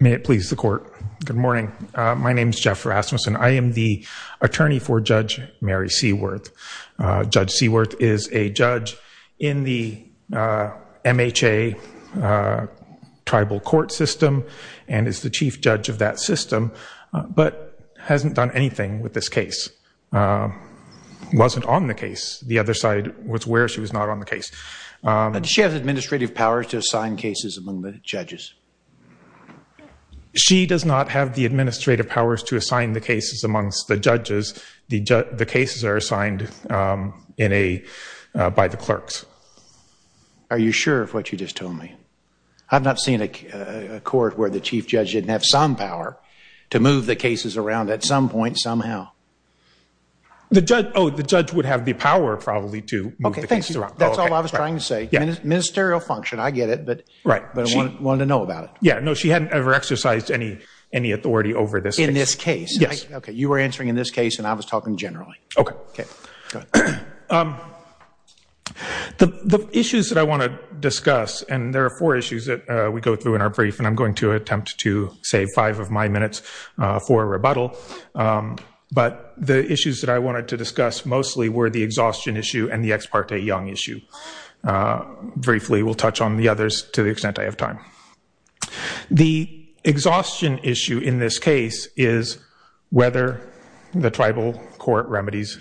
May it please the court. Good morning. My name is Jeff Rasmussen. I am the attorney for Judge Mary Seaworth. Judge Seaworth is a judge in the MHA tribal court system and is the chief judge of that system, but hasn't done anything with this case. Wasn't on the case. The other side was where she was not on the case. She has administrative powers to assign cases among the judges. She does not have the administrative powers to assign the cases amongst the judges. The cases are assigned by the clerks. Are you sure of what you just told me? I've not seen a court where the chief judge didn't have some power to move the cases around at some point, somehow. Oh, the judge would have the power probably to move the cases around. That's all I was trying to say. Ministerial function, I get it, but I wanted to know about it. Yeah, no, she hadn't ever exercised any authority over this case. In this case? Yes. Okay, you were answering in this case and I was talking generally. Okay. The issues that I want to discuss, and there are four issues that we go through in our brief, and I'm going to attempt to save five of my minutes for rebuttal, but the issues that I wanted to discuss mostly were the exhaustion issue and the ex parte young issue. Briefly, we'll touch on the others to the extent I have time. The exhaustion issue in this case is whether the tribal court remedies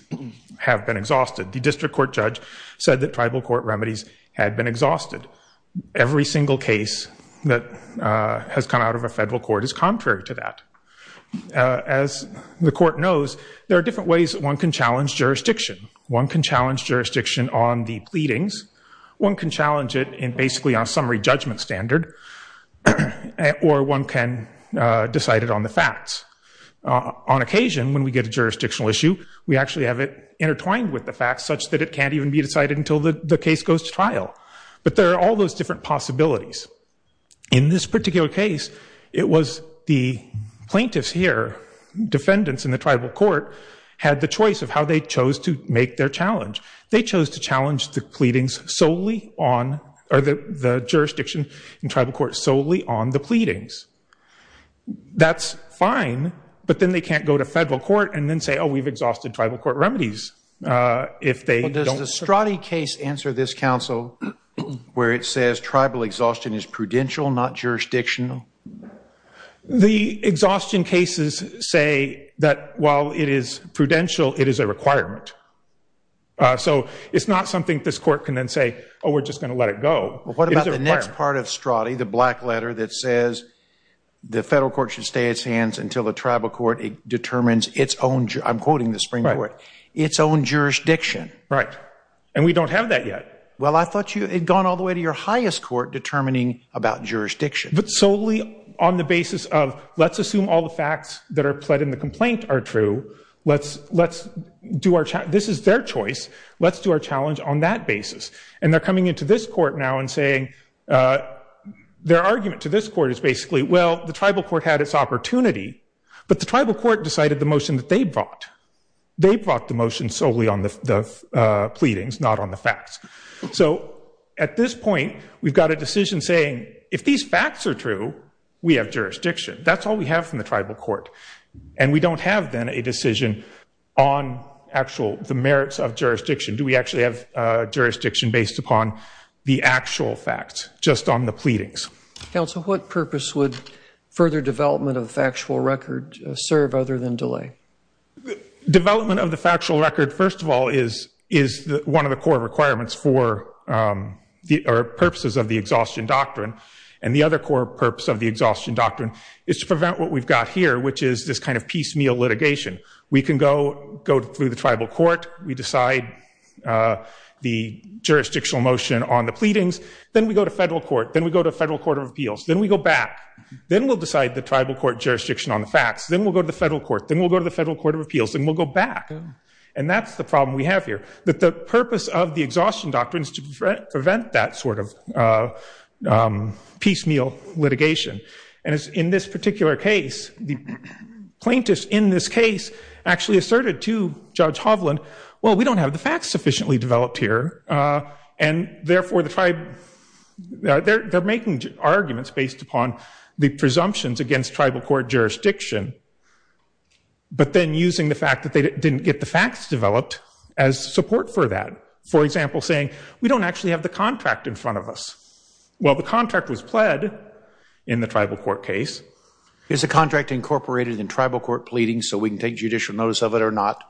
have been exhausted. The district court judge said that tribal court remedies had been exhausted. Every single case that has come out of a federal court is contrary to that. As the court knows, there are different ways one can challenge jurisdiction. One can challenge jurisdiction on the pleadings. One can challenge it basically on summary judgment standard, or one can decide it on the facts. On occasion, when we get a jurisdictional issue, we actually have it intertwined with the facts such that it can't even be decided until the case goes to trial. But there are all those different possibilities. In this particular case, it was the plaintiffs here, defendants in the tribal court, had the choice of how they chose to make their challenge. They chose to challenge the jurisdiction in tribal court solely on the pleadings. That's fine, but then they can't go to federal court and then say, oh, we've exhausted tribal court remedies. Does the Stradi case answer this counsel where it says tribal exhaustion is prudential, not jurisdictional? The exhaustion cases say that while it is prudential, it is a requirement. So it's not something this court can then say, oh, we're just going to let it go. What about the next part of Stradi, the black letter that says the federal court should stay its hands until the tribal court determines its own, I'm quoting the Supreme Court, its own jurisdiction? Right, and we don't have that yet. Well, I thought you had gone all the way to your highest court determining about jurisdiction. But solely on the basis of let's assume all the facts that are pled in the complaint are true. This is their choice. Let's do our challenge on that basis. And they're coming into this court now and saying their argument to this court is basically, well, the tribal court had its opportunity, but the tribal court decided the motion that they brought. They brought the motion solely on the pleadings, not on the facts. So at this point, we've got a decision saying if these facts are true, we have jurisdiction. That's all we have from the tribal court. And we don't have then a decision on actual the merits of jurisdiction. Do we actually have jurisdiction based upon the actual facts, just on the pleadings? Counsel, what purpose would further development of the factual record serve other than delay? Development of the factual record, first of all, is one of the core requirements for purposes of the exhaustion doctrine. And the other core purpose of the exhaustion doctrine is to prevent what we've got here, which is this kind of piecemeal litigation. We can go through the tribal court. We decide the jurisdictional motion on the pleadings. Then we go to federal court. Then we go to federal court of appeals. Then we go back. Then we'll decide the tribal court jurisdiction on the facts. Then we'll go to the federal court. Then we'll go to the federal court of appeals. Then we'll go back. And that's the problem we have here, that the purpose of the exhaustion doctrine is to prevent that sort of piecemeal litigation. And in this particular case, the plaintiffs in this case actually asserted to Judge Hovland, well, we don't have the facts sufficiently developed here. And, therefore, they're making arguments based upon the presumptions against tribal court jurisdiction, but then using the fact that they didn't get the facts developed as support for that. For example, saying, we don't actually have the contract in front of us. Well, the contract was pled in the tribal court case. Is the contract incorporated in tribal court pleadings so we can take judicial notice of it or not?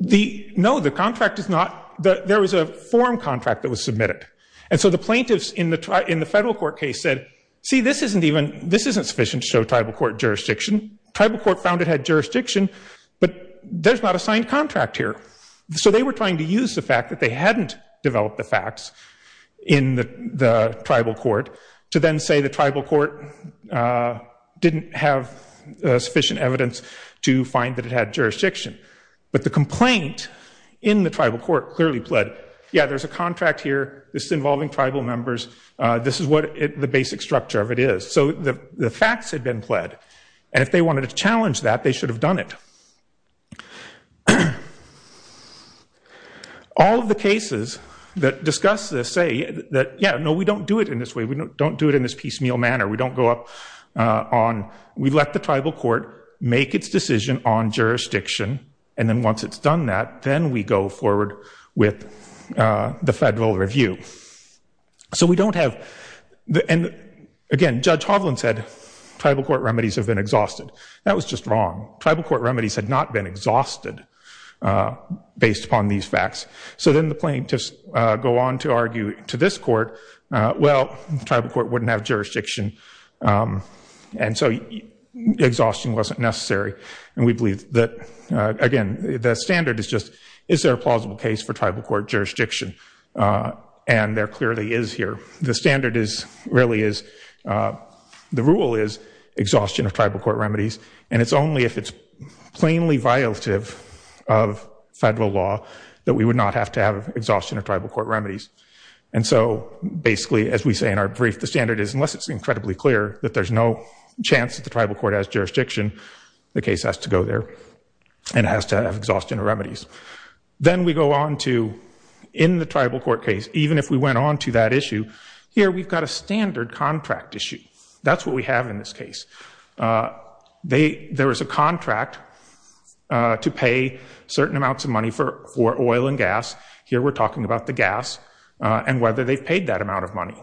No, the contract is not. There was a form contract that was submitted. And so the plaintiffs in the federal court case said, see, this isn't sufficient to show tribal court jurisdiction. Tribal court found it had jurisdiction, but there's not a signed contract here. So they were trying to use the fact that they hadn't developed the facts in the tribal court to then say the tribal court didn't have sufficient evidence to find that it had jurisdiction. But the complaint in the tribal court clearly pled, yeah, there's a contract here. This is involving tribal members. This is what the basic structure of it is. So the facts had been pled. And if they wanted to challenge that, they should have done it. All of the cases that discuss this say that, yeah, no, we don't do it in this way. We don't do it in this piecemeal manner. We don't go up on, we let the tribal court make its decision on jurisdiction. And then once it's done that, then we go forward with the federal review. So we don't have, and again, Judge Hovland said tribal court remedies have been exhausted. That was just wrong. Tribal court remedies had not been exhausted based upon these facts. So then the plaintiffs go on to argue to this court, well, the tribal court wouldn't have jurisdiction. And so exhaustion wasn't necessary. And we believe that, again, the standard is just, is there a plausible case for tribal court jurisdiction? And there clearly is here. The standard really is, the rule is exhaustion of tribal court remedies. And it's only if it's plainly violative of federal law that we would not have to have exhaustion of tribal court remedies. And so basically, as we say in our brief, the standard is, unless it's incredibly clear that there's no chance that the tribal court has jurisdiction, the case has to go there and has to have exhaustion of remedies. Then we go on to, in the tribal court case, even if we went on to that issue, here we've got a standard contract issue. That's what we have in this case. There is a contract to pay certain amounts of money for oil and gas. Here we're talking about the gas and whether they've paid that amount of money.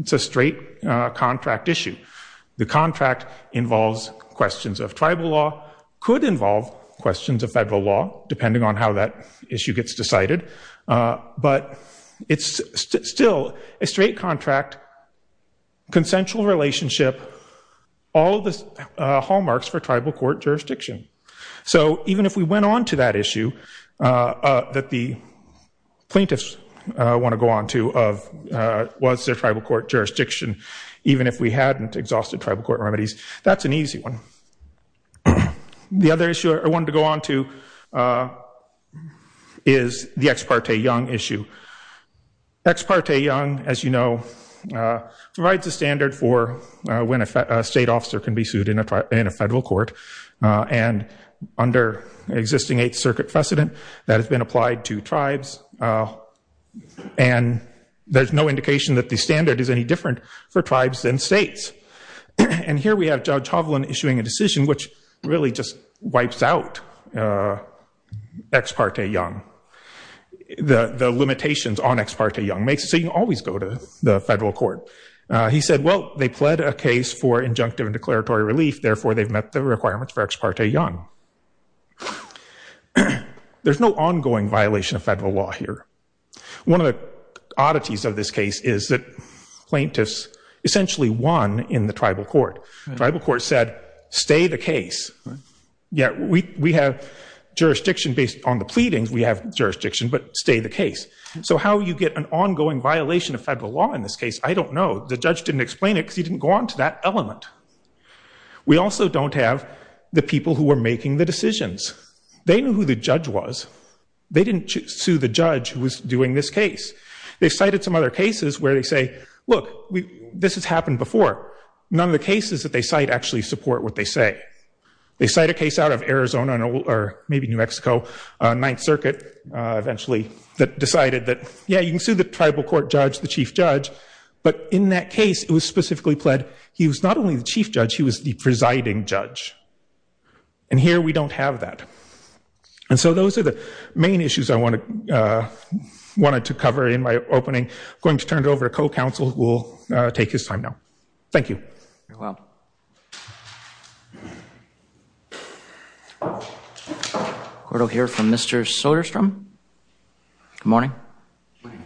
It's a straight contract issue. The contract involves questions of tribal law, could involve questions of federal law, depending on how that issue gets decided. But it's still a straight contract, consensual relationship, all of the hallmarks for tribal court jurisdiction. So even if we went on to that issue that the plaintiffs want to go on to, of was there tribal court jurisdiction, even if we hadn't exhausted tribal court remedies, that's an easy one. The other issue I wanted to go on to is the Ex Parte Young issue. Ex Parte Young, as you know, provides a standard for when a state officer can be sued in a federal court. And under existing Eighth Circuit precedent, that has been applied to tribes. And there's no indication that the standard is any different for tribes than states. And here we have Judge Hovland issuing a decision which really just wipes out Ex Parte Young. The limitations on Ex Parte Young makes it so you always go to the federal court. He said, well, they pled a case for injunctive and declaratory relief, therefore they've met the requirements for Ex Parte Young. There's no ongoing violation of federal law here. One of the oddities of this case is that plaintiffs essentially won in the tribal court. Tribal court said, stay the case. Yeah, we have jurisdiction based on the pleadings, we have jurisdiction, but stay the case. So how you get an ongoing violation of federal law in this case, I don't know. The judge didn't explain it because he didn't go on to that element. We also don't have the people who were making the decisions. They knew who the judge was. They didn't sue the judge who was doing this case. They cited some other cases where they say, look, this has happened before. None of the cases that they cite actually support what they say. They cite a case out of Arizona or maybe New Mexico, Ninth Circuit eventually, that decided that, yeah, you can sue the tribal court judge, the chief judge. But in that case, it was specifically pled, he was not only the chief judge, he was the presiding judge. And here we don't have that. And so those are the main issues I wanted to cover in my opening. I'm going to turn it over to co-counsel who will take his time now. Thank you. Very well. We'll hear from Mr. Soderstrom. Good morning. Thank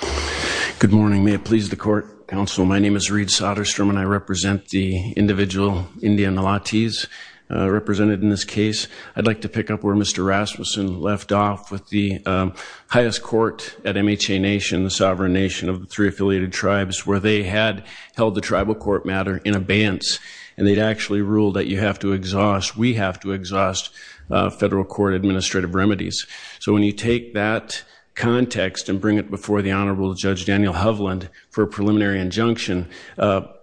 you. Good morning. May it please the court, counsel. My name is Reed Soderstrom, and I represent the individual, India Nalatiz, represented in this case. I'd like to pick up where Mr. Rasmussen left off with the highest court at MHA Nation, the sovereign nation of the three affiliated tribes, where they had held the tribal court matter in abeyance. And they'd actually ruled that you have to exhaust, we have to exhaust federal court administrative remedies. So when you take that context and bring it before the Honorable Judge Daniel Hovland for a preliminary injunction,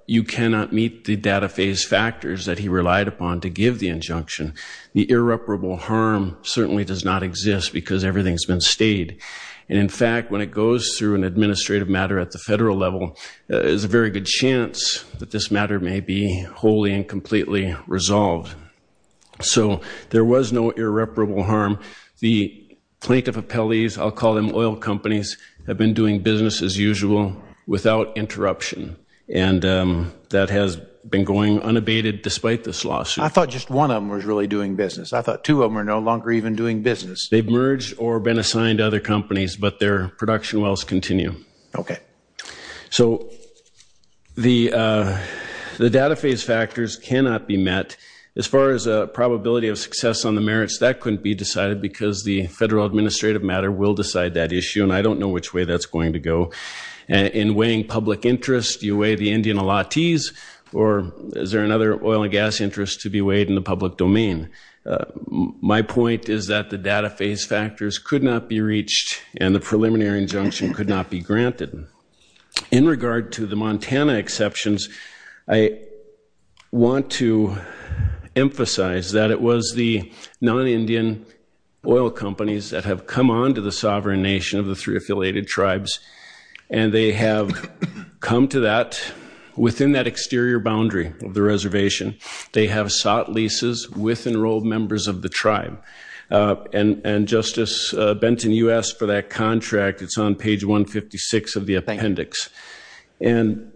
you cannot meet the data phase factors that he relied upon to give the injunction. The irreparable harm certainly does not exist because everything's been stayed. And, in fact, when it goes through an administrative matter at the federal level, there's a very good chance that this matter may be wholly and completely resolved. So there was no irreparable harm. The plaintiff appellees, I'll call them oil companies, have been doing business as usual without interruption. And that has been going unabated despite this lawsuit. I thought just one of them was really doing business. I thought two of them were no longer even doing business. They've merged or been assigned to other companies, but their production wells continue. Okay. So the data phase factors cannot be met. As far as a probability of success on the merits, that couldn't be decided because the federal administrative matter will decide that issue, and I don't know which way that's going to go. In weighing public interest, do you weigh the Indian allottees, or is there another oil and gas interest to be weighed in the public domain? My point is that the data phase factors could not be reached and the preliminary injunction could not be granted. In regard to the Montana exceptions, I want to emphasize that it was the non-Indian oil companies that have come on to the sovereign nation of the three affiliated tribes, and they have come to that within that exterior boundary of the reservation. They have sought leases with enrolled members of the tribe. And, Justice Benton, you asked for that contract. It's on page 156 of the appendix. And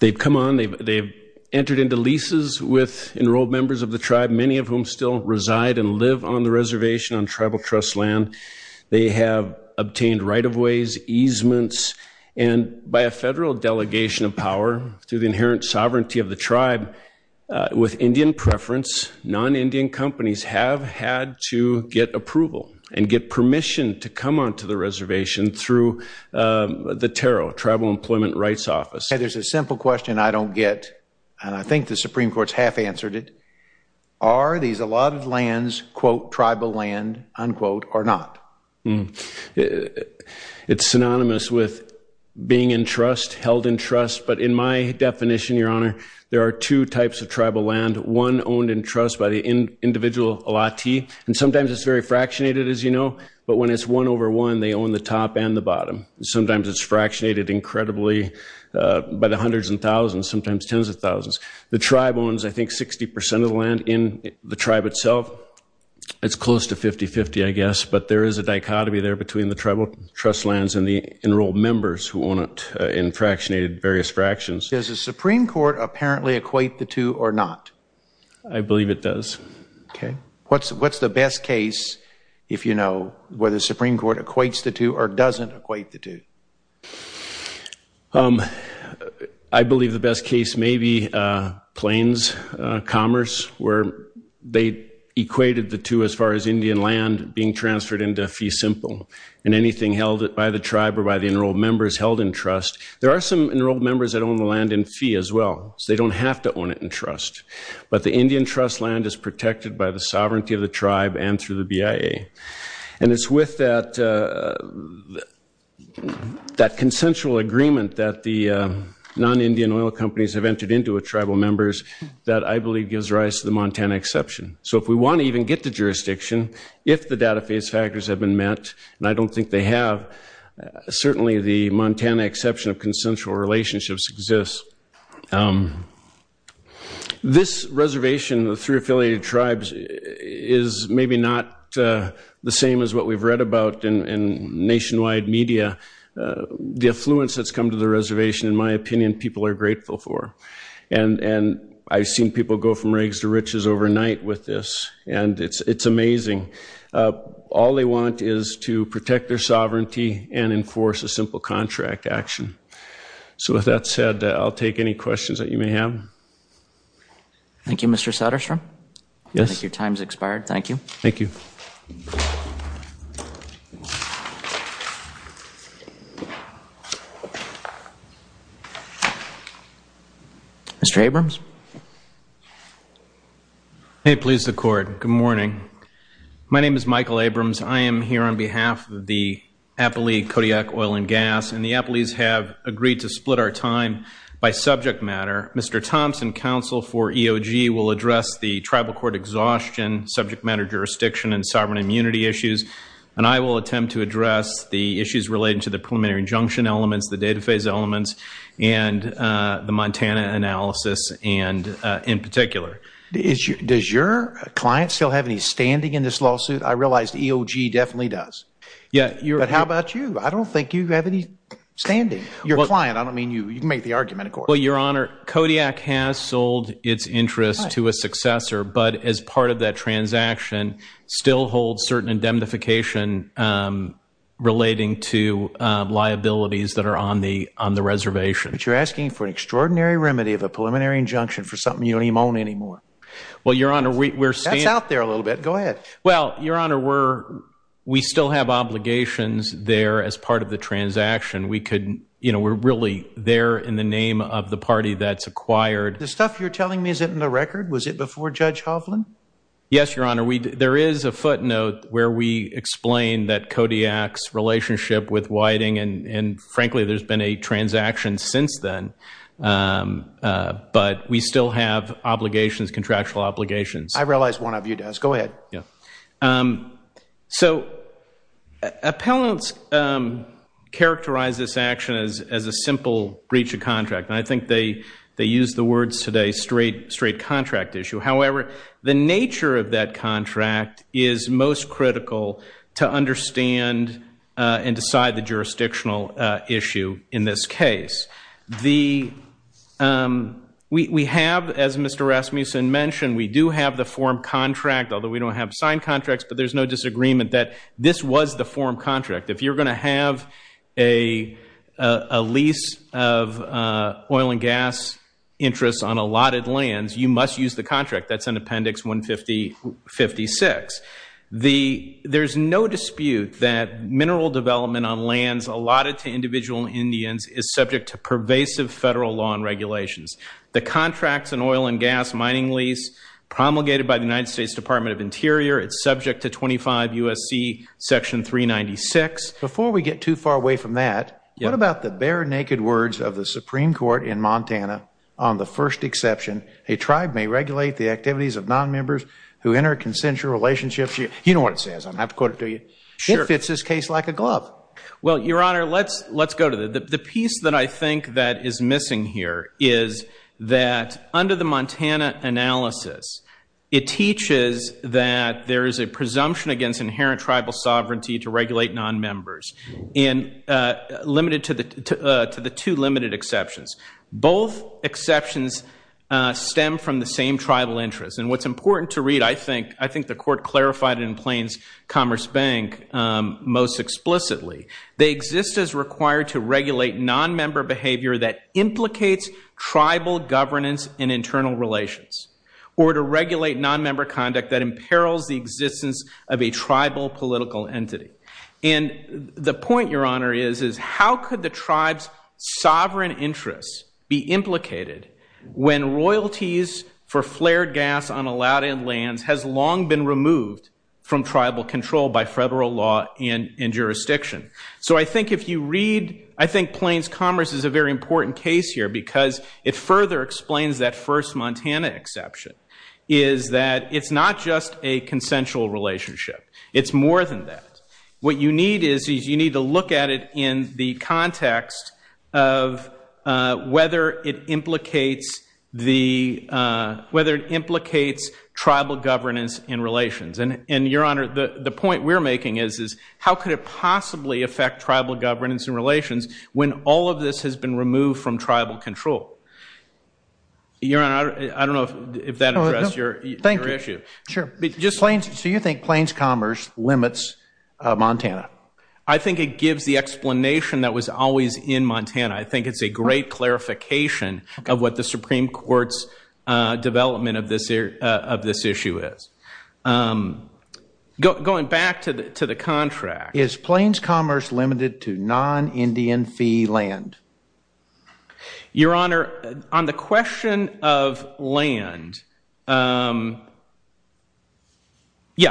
they've come on. They've entered into leases with enrolled members of the tribe, many of whom still reside and live on the reservation on tribal trust land. They have obtained right-of-ways, easements, and by a federal delegation of power through the inherent sovereignty of the tribe, with Indian preference, non-Indian companies have had to get approval and get permission to come on to the reservation through the TARO, Tribal Employment Rights Office. There's a simple question I don't get, and I think the Supreme Court's half-answered it. Are these allotted lands, quote, tribal land, unquote, or not? It's synonymous with being in trust, held in trust. But in my definition, Your Honor, there are two types of tribal land, one owned in trust by the individual allottee. And sometimes it's very fractionated, as you know, but when it's one over one, they own the top and the bottom. Sometimes it's fractionated incredibly by the hundreds and thousands, sometimes tens of thousands. The tribe owns, I think, 60% of the land in the tribe itself. It's close to 50-50, I guess, but there is a dichotomy there between the tribal trust lands and the enrolled members who own it in fractionated various fractions. Does the Supreme Court apparently equate the two or not? I believe it does. Okay. What's the best case, if you know, where the Supreme Court equates the two or doesn't equate the two? I believe the best case may be Plains Commerce, where they equated the two as far as Indian land being transferred into fee simple and anything held by the tribe or by the enrolled members held in trust. There are some enrolled members that own the land in fee as well, so they don't have to own it in trust. But the Indian trust land is protected by the sovereignty of the tribe and through the BIA. And it's with that consensual agreement that the non-Indian oil companies have entered into with tribal members that I believe gives rise to the Montana exception. So if we want to even get the jurisdiction, if the data phase factors have been met, and I don't think they have, certainly the Montana exception of consensual relationships exists. This reservation, the three affiliated tribes, is maybe not the same as what we've read about in nationwide media. The affluence that's come to the reservation, in my opinion, people are grateful for. And I've seen people go from rags to riches overnight with this, and it's amazing. All they want is to protect their sovereignty and enforce a simple contract action. So with that said, I'll take any questions that you may have. Thank you, Mr. Satterstrom. I think your time's expired. Thank you. Thank you. Mr. Abrams. May it please the court. Good morning. My name is Michael Abrams. I am here on behalf of the Appalachian Kodiak Oil and Gas, and the Appalachians have agreed to split our time by subject matter. Mr. Thompson, counsel for EOG, will address the tribal court exhaustion, subject matter jurisdiction, and sovereign immunity issues. And I will attempt to address the issues relating to the preliminary injunction elements, the data phase elements, and the Montana analysis in particular. Does your client still have any standing in this lawsuit? I realize the EOG definitely does. Yeah. But how about you? I don't think you have any standing. Your client, I don't mean you. You can make the argument, of course. Well, Your Honor, Kodiak has sold its interest to a successor, but as part of that transaction, still holds certain indemnification relating to liabilities that are on the reservation. But you're asking for an extraordinary remedy of a preliminary injunction for something you don't even own anymore. Well, Your Honor, we're standing. That's out there a little bit. Go ahead. Well, Your Honor, we still have obligations there as part of the transaction. We're really there in the name of the party that's acquired. The stuff you're telling me, is it in the record? Was it before Judge Hovland? Yes, Your Honor. There is a footnote where we explain that Kodiak's relationship with Whiting, and frankly, there's been a transaction since then. But we still have obligations, contractual obligations. I realize one of you does. Go ahead. Yeah. So, appellants characterize this action as a simple breach of contract. And I think they use the words today, straight contract issue. However, the nature of that contract is most critical to understand and decide the jurisdictional issue in this case. We have, as Mr. Rasmussen mentioned, we do have the form contract, although we don't have signed contracts, but there's no disagreement that this was the form contract. If you're going to have a lease of oil and gas interests on allotted lands, you must use the contract. That's in Appendix 156. There's no dispute that mineral development on lands allotted to individual Indians is subject to pervasive federal law and regulations. The contracts in oil and gas mining lease promulgated by the United States Department of Interior, it's subject to 25 U.S.C. Section 396. Before we get too far away from that, what about the bare naked words of the Supreme Court in Montana, on the first exception, a tribe may regulate the activities of nonmembers who enter consensual relationships. You know what it says. I don't have to quote it to you. It fits this case like a glove. Well, Your Honor, let's go to that. The piece that I think that is missing here is that under the Montana analysis, it teaches that there is a presumption against inherent tribal sovereignty to regulate nonmembers, limited to the two limited exceptions. Both exceptions stem from the same tribal interest. And what's important to read, I think the court clarified it in Plains Commerce Bank most explicitly. They exist as required to regulate nonmember behavior that implicates tribal governance in internal relations, or to regulate nonmember conduct that imperils the existence of a tribal political entity. And the point, Your Honor, is how could the tribe's sovereign interests be implicated when royalties for flared gas on allowed-in lands has long been removed from tribal control by federal law and jurisdiction. So I think if you read, I think Plains Commerce is a very important case here because it further explains that first Montana exception, is that it's not just a consensual relationship. It's more than that. What you need is you need to look at it in the context of whether it implicates tribal governance in relations. And, Your Honor, the point we're making is how could it possibly affect tribal governance in relations when all of this has been removed from tribal control? Your Honor, I don't know if that addressed your issue. Sure. So you think Plains Commerce limits Montana? I think it gives the explanation that was always in Montana. I think it's a great clarification of what the Supreme Court's development of this issue is. Going back to the contract. Is Plains Commerce limited to non-Indian fee land? Your Honor, on the question of land, yeah.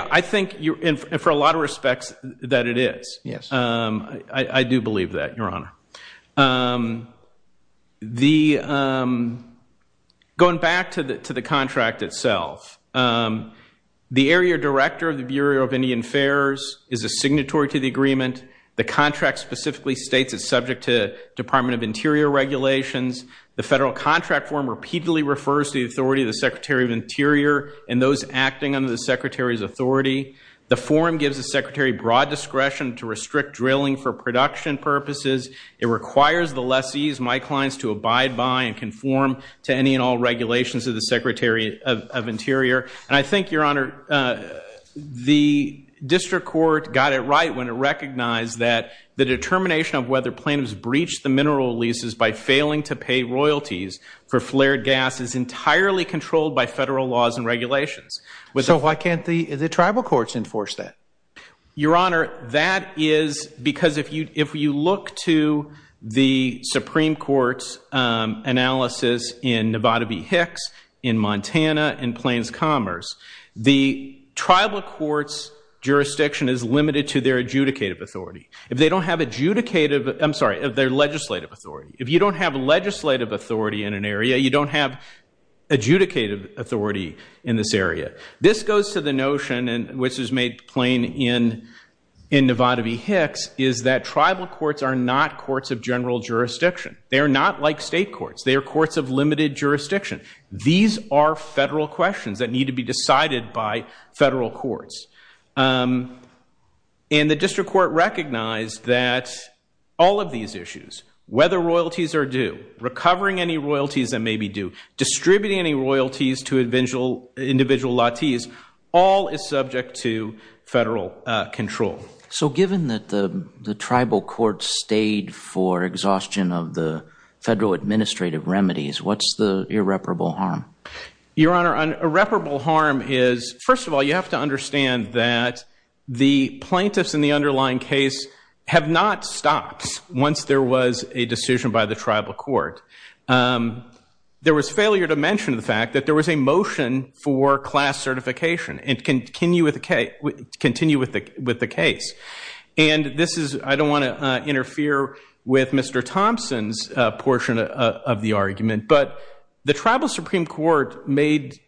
I think for a lot of respects that it is. Yes. I do believe that, Your Honor. Going back to the contract itself. The area director of the Bureau of Indian Affairs is a signatory to the agreement. The contract specifically states it's subject to Department of Interior regulations. The federal contract form repeatedly refers to the authority of the Secretary of Interior and those acting under the Secretary's authority. The form gives the Secretary broad discretion to restrict drilling for production purposes. It requires the lessees, my clients, to abide by and conform to any and all regulations of the Secretary of Interior. I think, Your Honor, the district court got it right when it recognized that the determination of whether plaintiffs breached the mineral leases by failing to pay royalties for flared gas is entirely controlled by federal laws and regulations. Why can't the tribal courts enforce that? Your Honor, that is because if you look to the Supreme Court's analysis in Plains Commerce, the tribal court's jurisdiction is limited to their adjudicative authority. If they don't have adjudicative, I'm sorry, their legislative authority. If you don't have legislative authority in an area, you don't have adjudicative authority in this area. This goes to the notion, which is made plain in Novotavy-Hicks, is that tribal courts are not courts of general jurisdiction. They are not like state courts. They are courts of limited jurisdiction. These are federal questions that need to be decided by federal courts. And the district court recognized that all of these issues, whether royalties are due, recovering any royalties that may be due, distributing any royalties to individual lattice, all is subject to federal control. So given that the tribal courts stayed for exhaustion of the federal administrative remedies, what's the irreparable harm? Your Honor, an irreparable harm is, first of all, you have to understand that the plaintiffs in the underlying case have not stopped once there was a decision by the tribal court. There was failure to mention the fact that there was a motion for class certification, and continue with the case. I don't want to interfere with Mr. Thompson's portion of the argument, but the Tribal Supreme Court made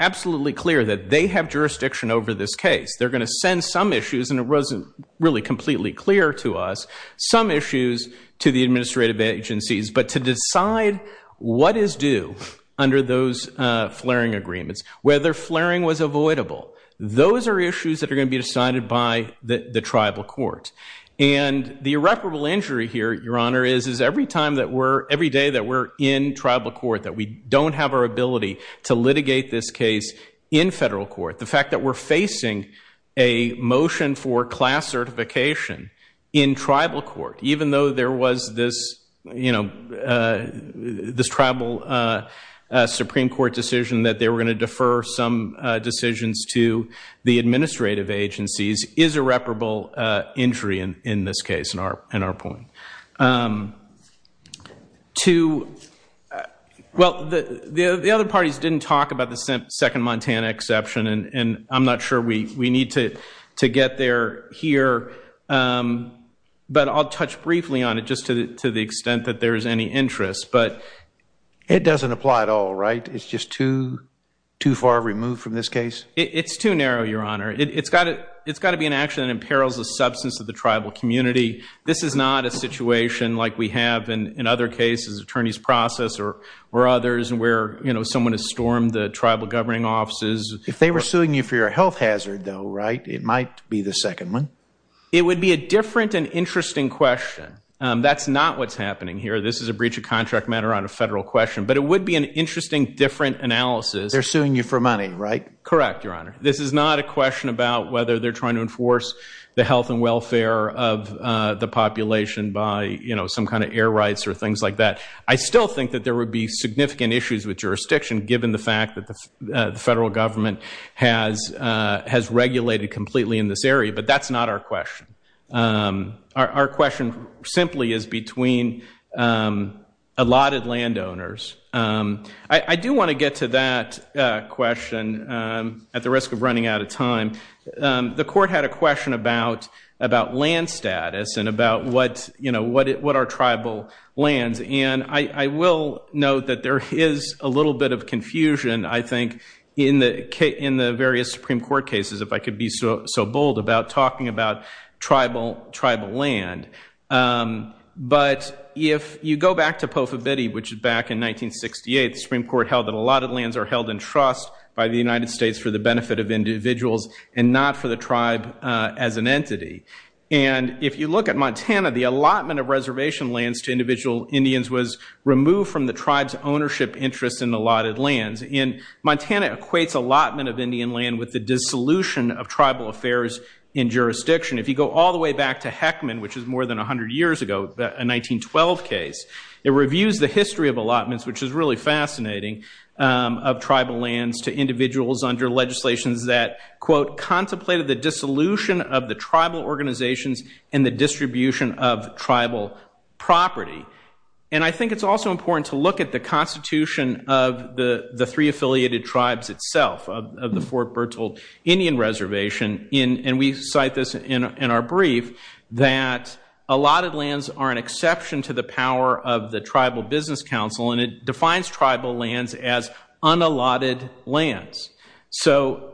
absolutely clear that they have jurisdiction over this case. They're going to send some issues, and it wasn't really completely clear to us, some issues to the administrative agencies, but to decide what is due under those flaring agreements, whether flaring was avoidable. Those are issues that are going to be decided by the tribal court. And the irreparable injury here, Your Honor, is every time that we're, every day that we're in tribal court, that we don't have our ability to litigate this case in federal court. The fact that we're facing a motion for class certification in tribal court, even though there was this, you know, this tribal Supreme Court decision that they were going to defer some decisions to the administrative agencies is irreparable injury in this case, in our point. Well, the other parties didn't talk about the second Montana exception, and I'm not sure we need to get there here, but I'll touch briefly on it just to the extent that there is any interest. It doesn't apply at all, right? It's just too far removed from this case? It's too narrow, Your Honor. It's got to be an action that imperils the substance of the tribal community. This is not a situation like we have in other cases, attorney's process or others, where, you know, someone has stormed the tribal governing offices. If they were suing you for your health hazard, though, right, it might be the second one. It would be a different and interesting question. That's not what's happening here. This is a breach of contract matter on a federal question, but it would be an interesting, different analysis. They're suing you for money, right? Correct, Your Honor. This is not a question about whether they're trying to enforce the health and welfare of the population by, you know, some kind of air rights or things like that. I still think that there would be significant issues with jurisdiction, given the fact that the federal government has regulated completely in this area, but that's not our question. Our question simply is between allotted landowners. I do want to get to that question at the risk of running out of time. The court had a question about land status and about, you know, what are tribal lands, and I will note that there is a little bit of confusion, I think, in the various Supreme Court cases, if I could be so bold, about talking about tribal land. But if you go back to Pofa Bitty, which is back in 1968, the Supreme Court held that allotted lands are held in trust by the United States for the benefit of individuals and not for the tribe as an entity. And if you look at Montana, the allotment of reservation lands to individual Indians was removed from the tribe's ownership interest in allotted lands. And Montana equates allotment of Indian land with the dissolution of tribal affairs in jurisdiction. If you go all the way back to Heckman, which is more than 100 years ago, a 1912 case, it reviews the history of allotments, which is really fascinating, of tribal lands to individuals under legislations that, quote, contemplated the dissolution of the tribal organizations and the distribution of tribal property. And I think it's also important to look at the constitution of the three affiliated tribes itself, of the Fort Bertolt Indian Reservation, and we cite this in our brief, that allotted lands are an exception to the power of the Tribal Business Council, and it defines tribal lands as unallotted lands. So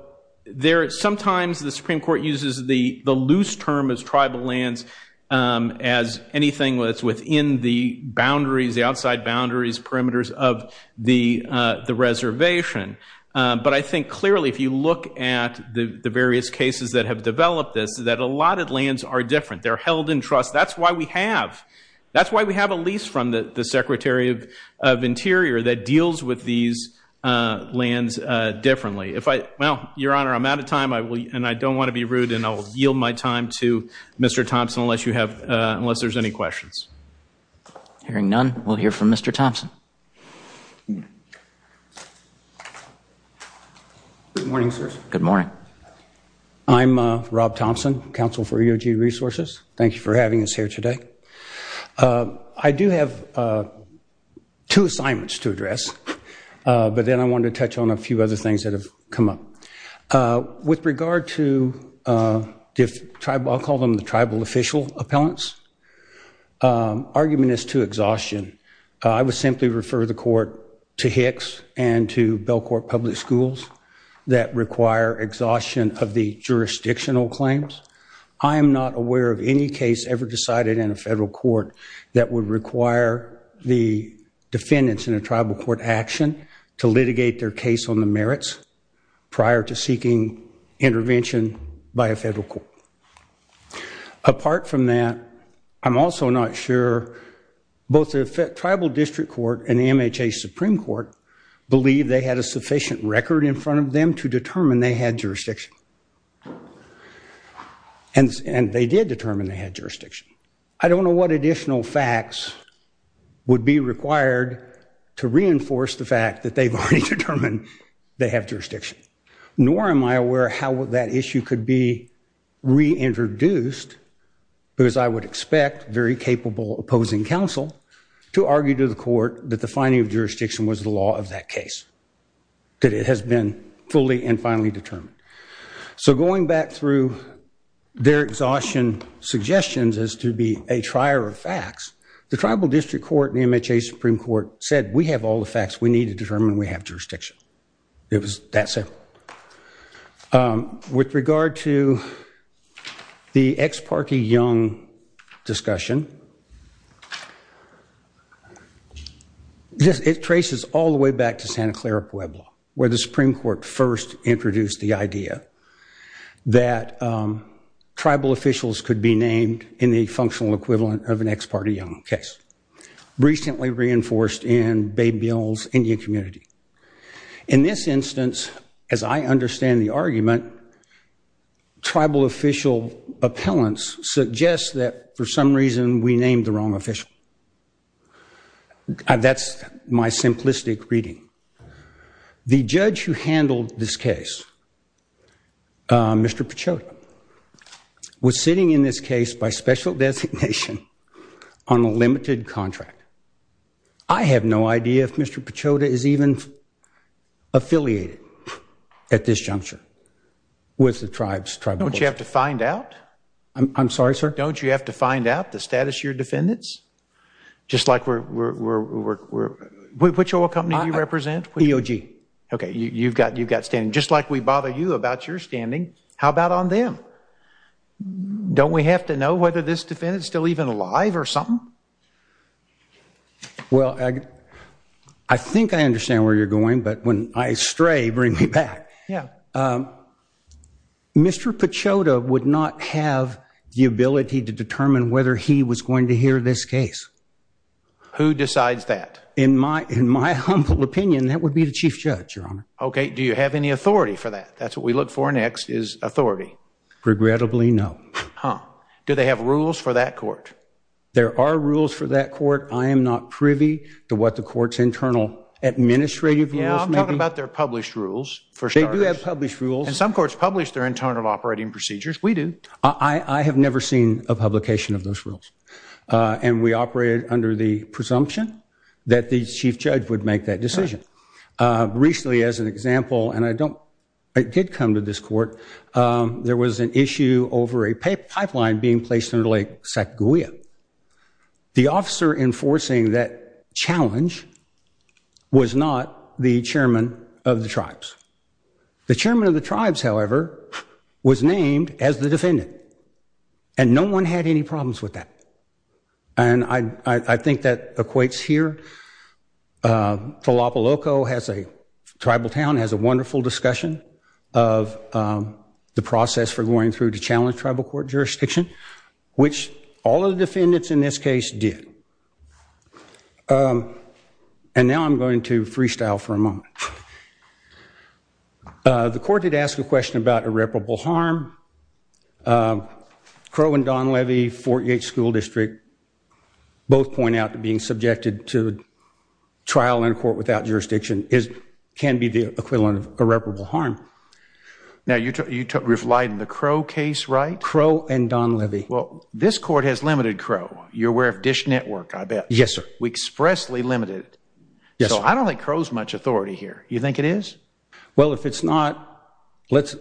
sometimes the Supreme Court uses the loose term as tribal lands as anything that's within the boundaries, the outside boundaries, perimeters of the reservation. But I think clearly if you look at the various cases that have developed this, that allotted lands are different. They're held in trust. That's why we have a lease from the Secretary of Interior that deals with these lands differently. Well, Your Honor, I'm out of time, and I don't want to be rude, and I'll yield my time to Mr. Thompson unless there's any questions. Hearing none, we'll hear from Mr. Thompson. Good morning, sirs. Good morning. I'm Rob Thompson, counsel for EOG Resources. Thank you for having us here today. I do have two assignments to address, but then I wanted to touch on a few other things that have come up. With regard to I'll call them the tribal official appellants, argument is to exhaustion. I would simply refer the court to Hicks and to Belcourt Public Schools that require exhaustion of the jurisdictional claims. I am not aware of any case ever decided in a federal court that would require the defendants in a tribal court action to litigate their case on the merits prior to seeking intervention by a federal court. Apart from that, I'm also not sure both the Tribal District Court and the MHA Supreme Court believe they had a sufficient record in front of them to determine they had jurisdiction. And they did determine they had jurisdiction. I don't know what additional facts would be required to reinforce the fact that they've already determined they have jurisdiction. Nor am I aware how that issue could be reintroduced because I would expect very capable opposing counsel to argue to the court that the finding of jurisdiction was the law of that case. That it has been fully and finally determined. So going back through their exhaustion suggestions as to be a trier of facts, the Tribal District Court and the MHA Supreme Court said we have all the facts we need to determine we have jurisdiction. It was that simple. With regard to the ex parte Young discussion, it traces all the way back to Santa Clara Pueblo where the Supreme Court first introduced the idea that tribal officials could be named in the functional equivalent of an ex parte Young case. Recently reinforced in Bay Mills Indian community. In this instance, as I understand the argument, tribal official appellants suggest that for some reason we named the wrong official. That's my simplistic reading. The judge who handled this case, Mr. Pechota, was sitting in this case by special designation on a limited contract. I have no idea if Mr. Pechota is even affiliated at this juncture with the tribe's tribal official. Don't you have to find out? I'm sorry, sir? Don't you have to find out the status of your defendants? Just like we're, which oil company do you represent? EOG. Okay, you've got standing. Just like we bother you about your standing. How about on them? Don't we have to know whether this defendant is still even alive or something? Well, I think I understand where you're going, but when I stray, bring me back. Yeah. Mr. Pechota would not have the ability to determine whether he was going to hear this case. Who decides that? In my humble opinion, that would be the chief judge, Your Honor. Okay. Do you have any authority for that? That's what we look for next, is authority. Regrettably, no. Huh. Do they have rules for that court? There are rules for that court. I am not privy to what the court's internal administrative rules may be. Yeah, I'm talking about their published rules for starters. They do have published rules. And some courts publish their internal operating procedures. We do. I have never seen a publication of those rules, and we operate under the presumption that the chief judge would make that decision. Recently, as an example, and I did come to this court, there was an issue over a pipeline being placed under Lake Sacagawea. The officer enforcing that challenge was not the chairman of the tribes. The chairman of the tribes, however, was named as the defendant, and no one had any problems with that. And I think that equates here. Talapaloco has a tribal town, has a wonderful discussion of the process for going through to challenge tribal court jurisdiction, which all of the defendants in this case did. And now I'm going to freestyle for a moment. The court did ask a question about irreparable harm. Crow and Don Levy, Fort Yates School District, both point out that being subjected to trial in court without jurisdiction can be the equivalent of irreparable harm. Now, you're referring to the Crow case, right? Crow and Don Levy. Well, this court has limited Crow. You're aware of Dish Network, I bet. Yes, sir. We expressly limited it. Yes, sir. So I don't think Crow's much authority here. You think it is? Well, if it's not, let's...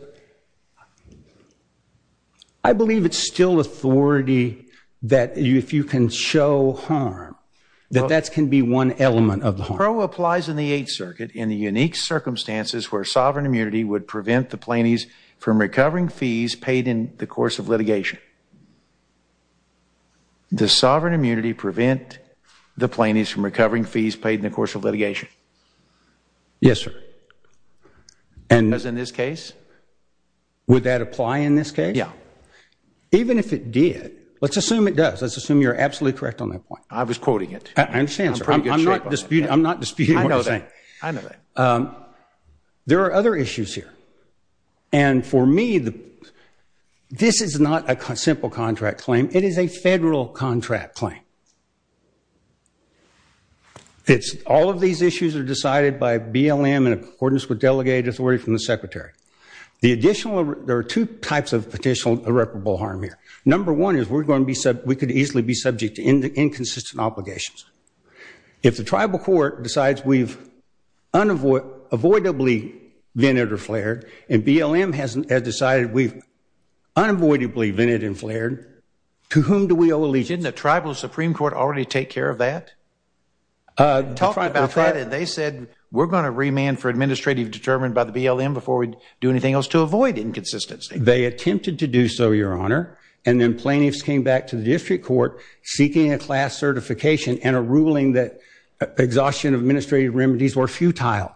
I believe it's still authority that if you can show harm, that that can be one element of the harm. Crow applies in the Eighth Circuit in the unique circumstances where sovereign immunity would prevent the plaintiffs from recovering fees paid in the course of litigation. Does sovereign immunity prevent the plaintiffs from recovering fees paid in the course of litigation? Yes, sir. As in this case? Would that apply in this case? Yeah. Even if it did, let's assume it does. Let's assume you're absolutely correct on that point. I was quoting it. I understand, sir. I'm not disputing what you're saying. I know that. There are other issues here. And for me, this is not a simple contract claim. It is a federal contract claim. All of these issues are decided by BLM in accordance with delegated authority from the Secretary. There are two types of potential irreparable harm here. Number one is we could easily be subject to inconsistent obligations. If the tribal court decides we've avoidably vented or flared and BLM has decided we've unavoidably vented and flared, to whom do we owe allegiance? Didn't the tribal Supreme Court already take care of that? Talk about that. They said we're going to remand for administrative determined by the BLM before we do anything else to avoid inconsistency. They attempted to do so, Your Honor. And then plaintiffs came back to the district court seeking a class certification and a ruling that exhaustion of administrative remedies were futile.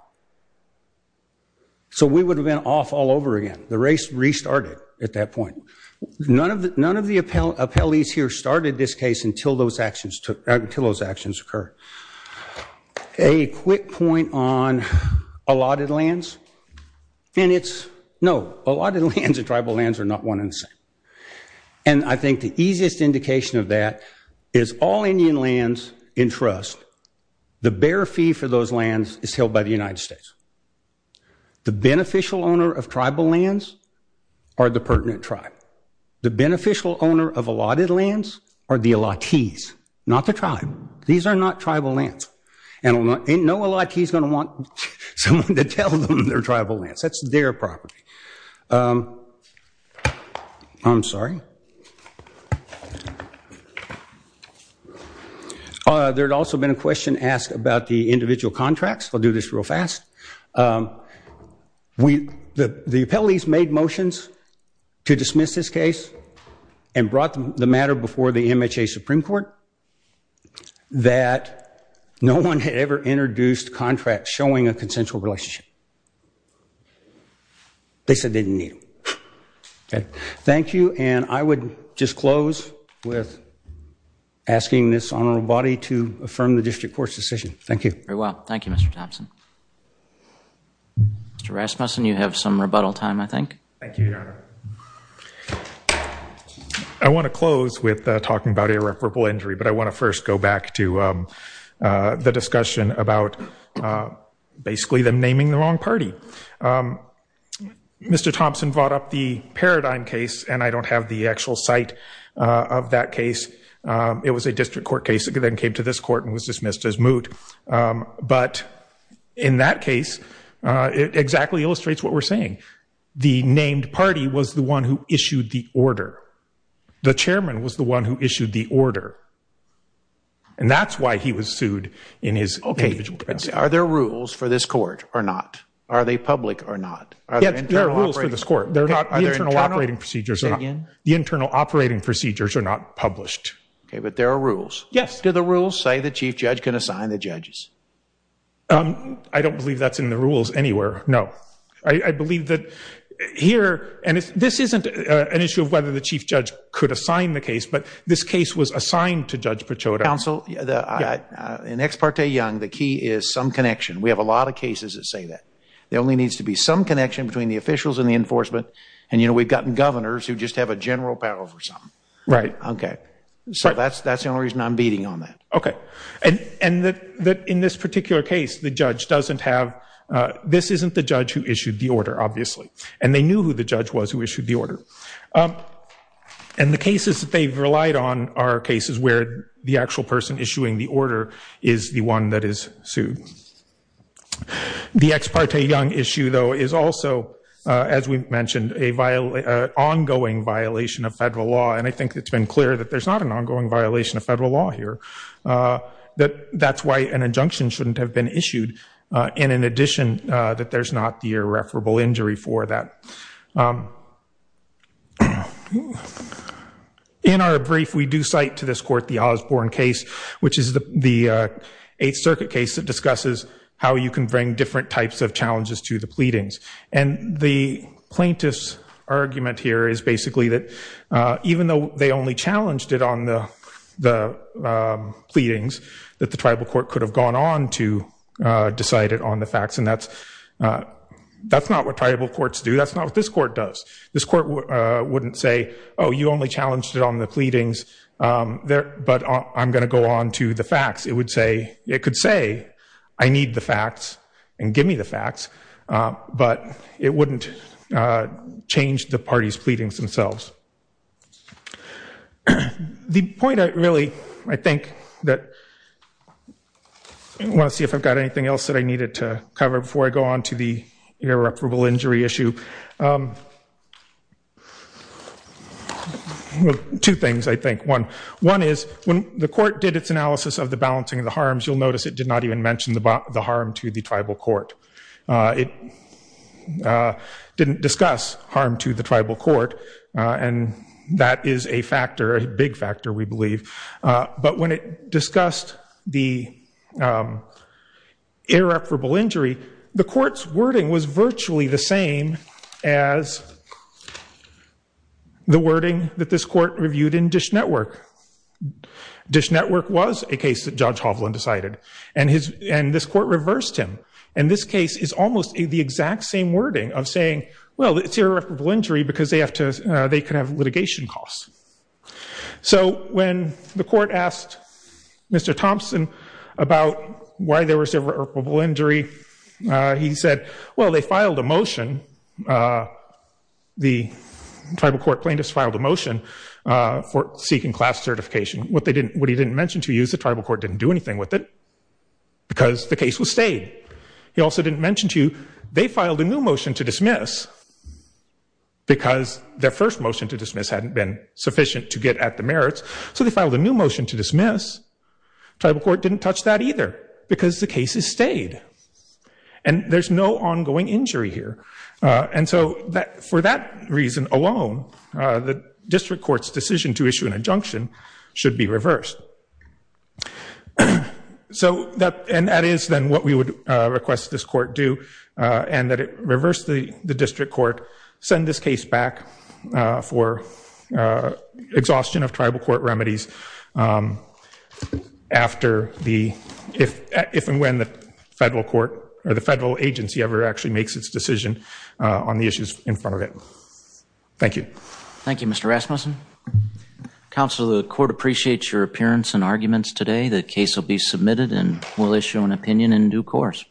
So we would have been off all over again. The race restarted at that point. None of the appellees here started this case until those actions occurred. A quick point on allotted lands. And it's, no, allotted lands and tribal lands are not one and the same. And I think the easiest indication of that is all Indian lands in trust, the bare fee for those lands is held by the United States. The beneficial owner of tribal lands are the pertinent tribe. The beneficial owner of allotted lands are the allottees, not the tribe. These are not tribal lands. And no allottee is going to want someone to tell them they're tribal lands. That's their property. I'm sorry. There had also been a question asked about the individual contracts. I'll do this real fast. The appellees made motions to dismiss this case and brought the matter before the MHA Supreme Court that no one had ever introduced contracts showing a consensual relationship. They said they didn't need them. Thank you. And I would just close with asking this honorable body to affirm the district court's decision. Thank you. Very well. Thank you, Mr. Thompson. Mr. Rasmussen, you have some rebuttal time, I think. Thank you, Your Honor. I want to close with talking about irreparable injury. But I want to first go back to the discussion about basically them naming the wrong party. Mr. Thompson brought up the Paradigm case. And I don't have the actual site of that case. It was a district court case that then came to this court and was dismissed as moot. But in that case, it exactly illustrates what we're saying. The named party was the one who issued the order. The chairman was the one who issued the order. And that's why he was sued in his individual capacity. Are there rules for this court or not? Are they public or not? Yes, there are rules for this court. The internal operating procedures are not published. But there are rules. Yes. Do the rules say the chief judge can assign the judges? I don't believe that's in the rules anywhere, no. I believe that here, and this isn't an issue of whether the chief judge could assign the case. But this case was assigned to Judge Pechota. Counsel, in Ex parte Young, the key is some connection. We have a lot of cases that say that. There only needs to be some connection between the officials and the enforcement. And we've gotten governors who just have a general power over something. Right. OK. So that's the only reason I'm beating on that. OK. And in this particular case, the judge doesn't have, this isn't the judge who issued the order, obviously. And they knew who the judge was who issued the order. And the cases that they've relied on are cases where the actual person issuing the order is the one that is sued. The Ex parte Young issue, though, is also, as we mentioned, an ongoing violation of federal law. And I think it's been clear that there's not an ongoing violation of federal law here. That that's why an injunction shouldn't have been issued. And in addition, that there's not the irreparable injury for that. In our brief, we do cite to this court the Osborne case, which is the Eighth Circuit case that discusses how you can bring different types of challenges to the pleadings. And the plaintiff's argument here is basically that even though they only challenged it on the pleadings, that the tribal court could have gone on to decide it on the facts. And that's not what tribal courts do. That's not what this court does. This court wouldn't say, oh, you only challenged it on the pleadings, but I'm going to go on to the facts. It would say, it could say, I need the facts, and give me the facts. But it wouldn't change the party's pleadings themselves. I want to see if I've got anything else that I needed to cover before I go on to the irreparable injury issue. Well, two things, I think. One is when the court did its analysis of the balancing of the harms, you'll notice it did not even mention the harm to the tribal court. It didn't discuss harm to the tribal court. And that is a factor, a big factor, we believe. But when it discussed the irreparable injury, the court's wording was virtually the same as the wording that this court reviewed in Dish Network. Dish Network was a case that Judge Hovland decided. And this court reversed him. And this case is almost the exact same wording of saying, well, it's irreparable injury because they could have litigation costs. So when the court asked Mr. Thompson about why there was irreparable injury, he said, well, they filed a motion. The tribal court plaintiffs filed a motion for seeking class certification. What he didn't mention to you is the tribal court didn't do anything with it because the case was stayed. He also didn't mention to you they filed a new motion to dismiss because their first motion to dismiss hadn't been sufficient to get at the merits. So they filed a new motion to dismiss. Tribal court didn't touch that either because the case has stayed. And there's no ongoing injury here. And so for that reason alone, the district court's decision to issue an injunction should be reversed. And that is then what we would request this court do, and that it reverse the district court, send this case back for exhaustion of tribal court remedies if and when the federal agency ever actually makes its decision on the issues in front of it. Thank you. Thank you, Mr. Rasmussen. Counsel, the court appreciates your appearance and arguments today. The case will be submitted, and we'll issue an opinion in due course.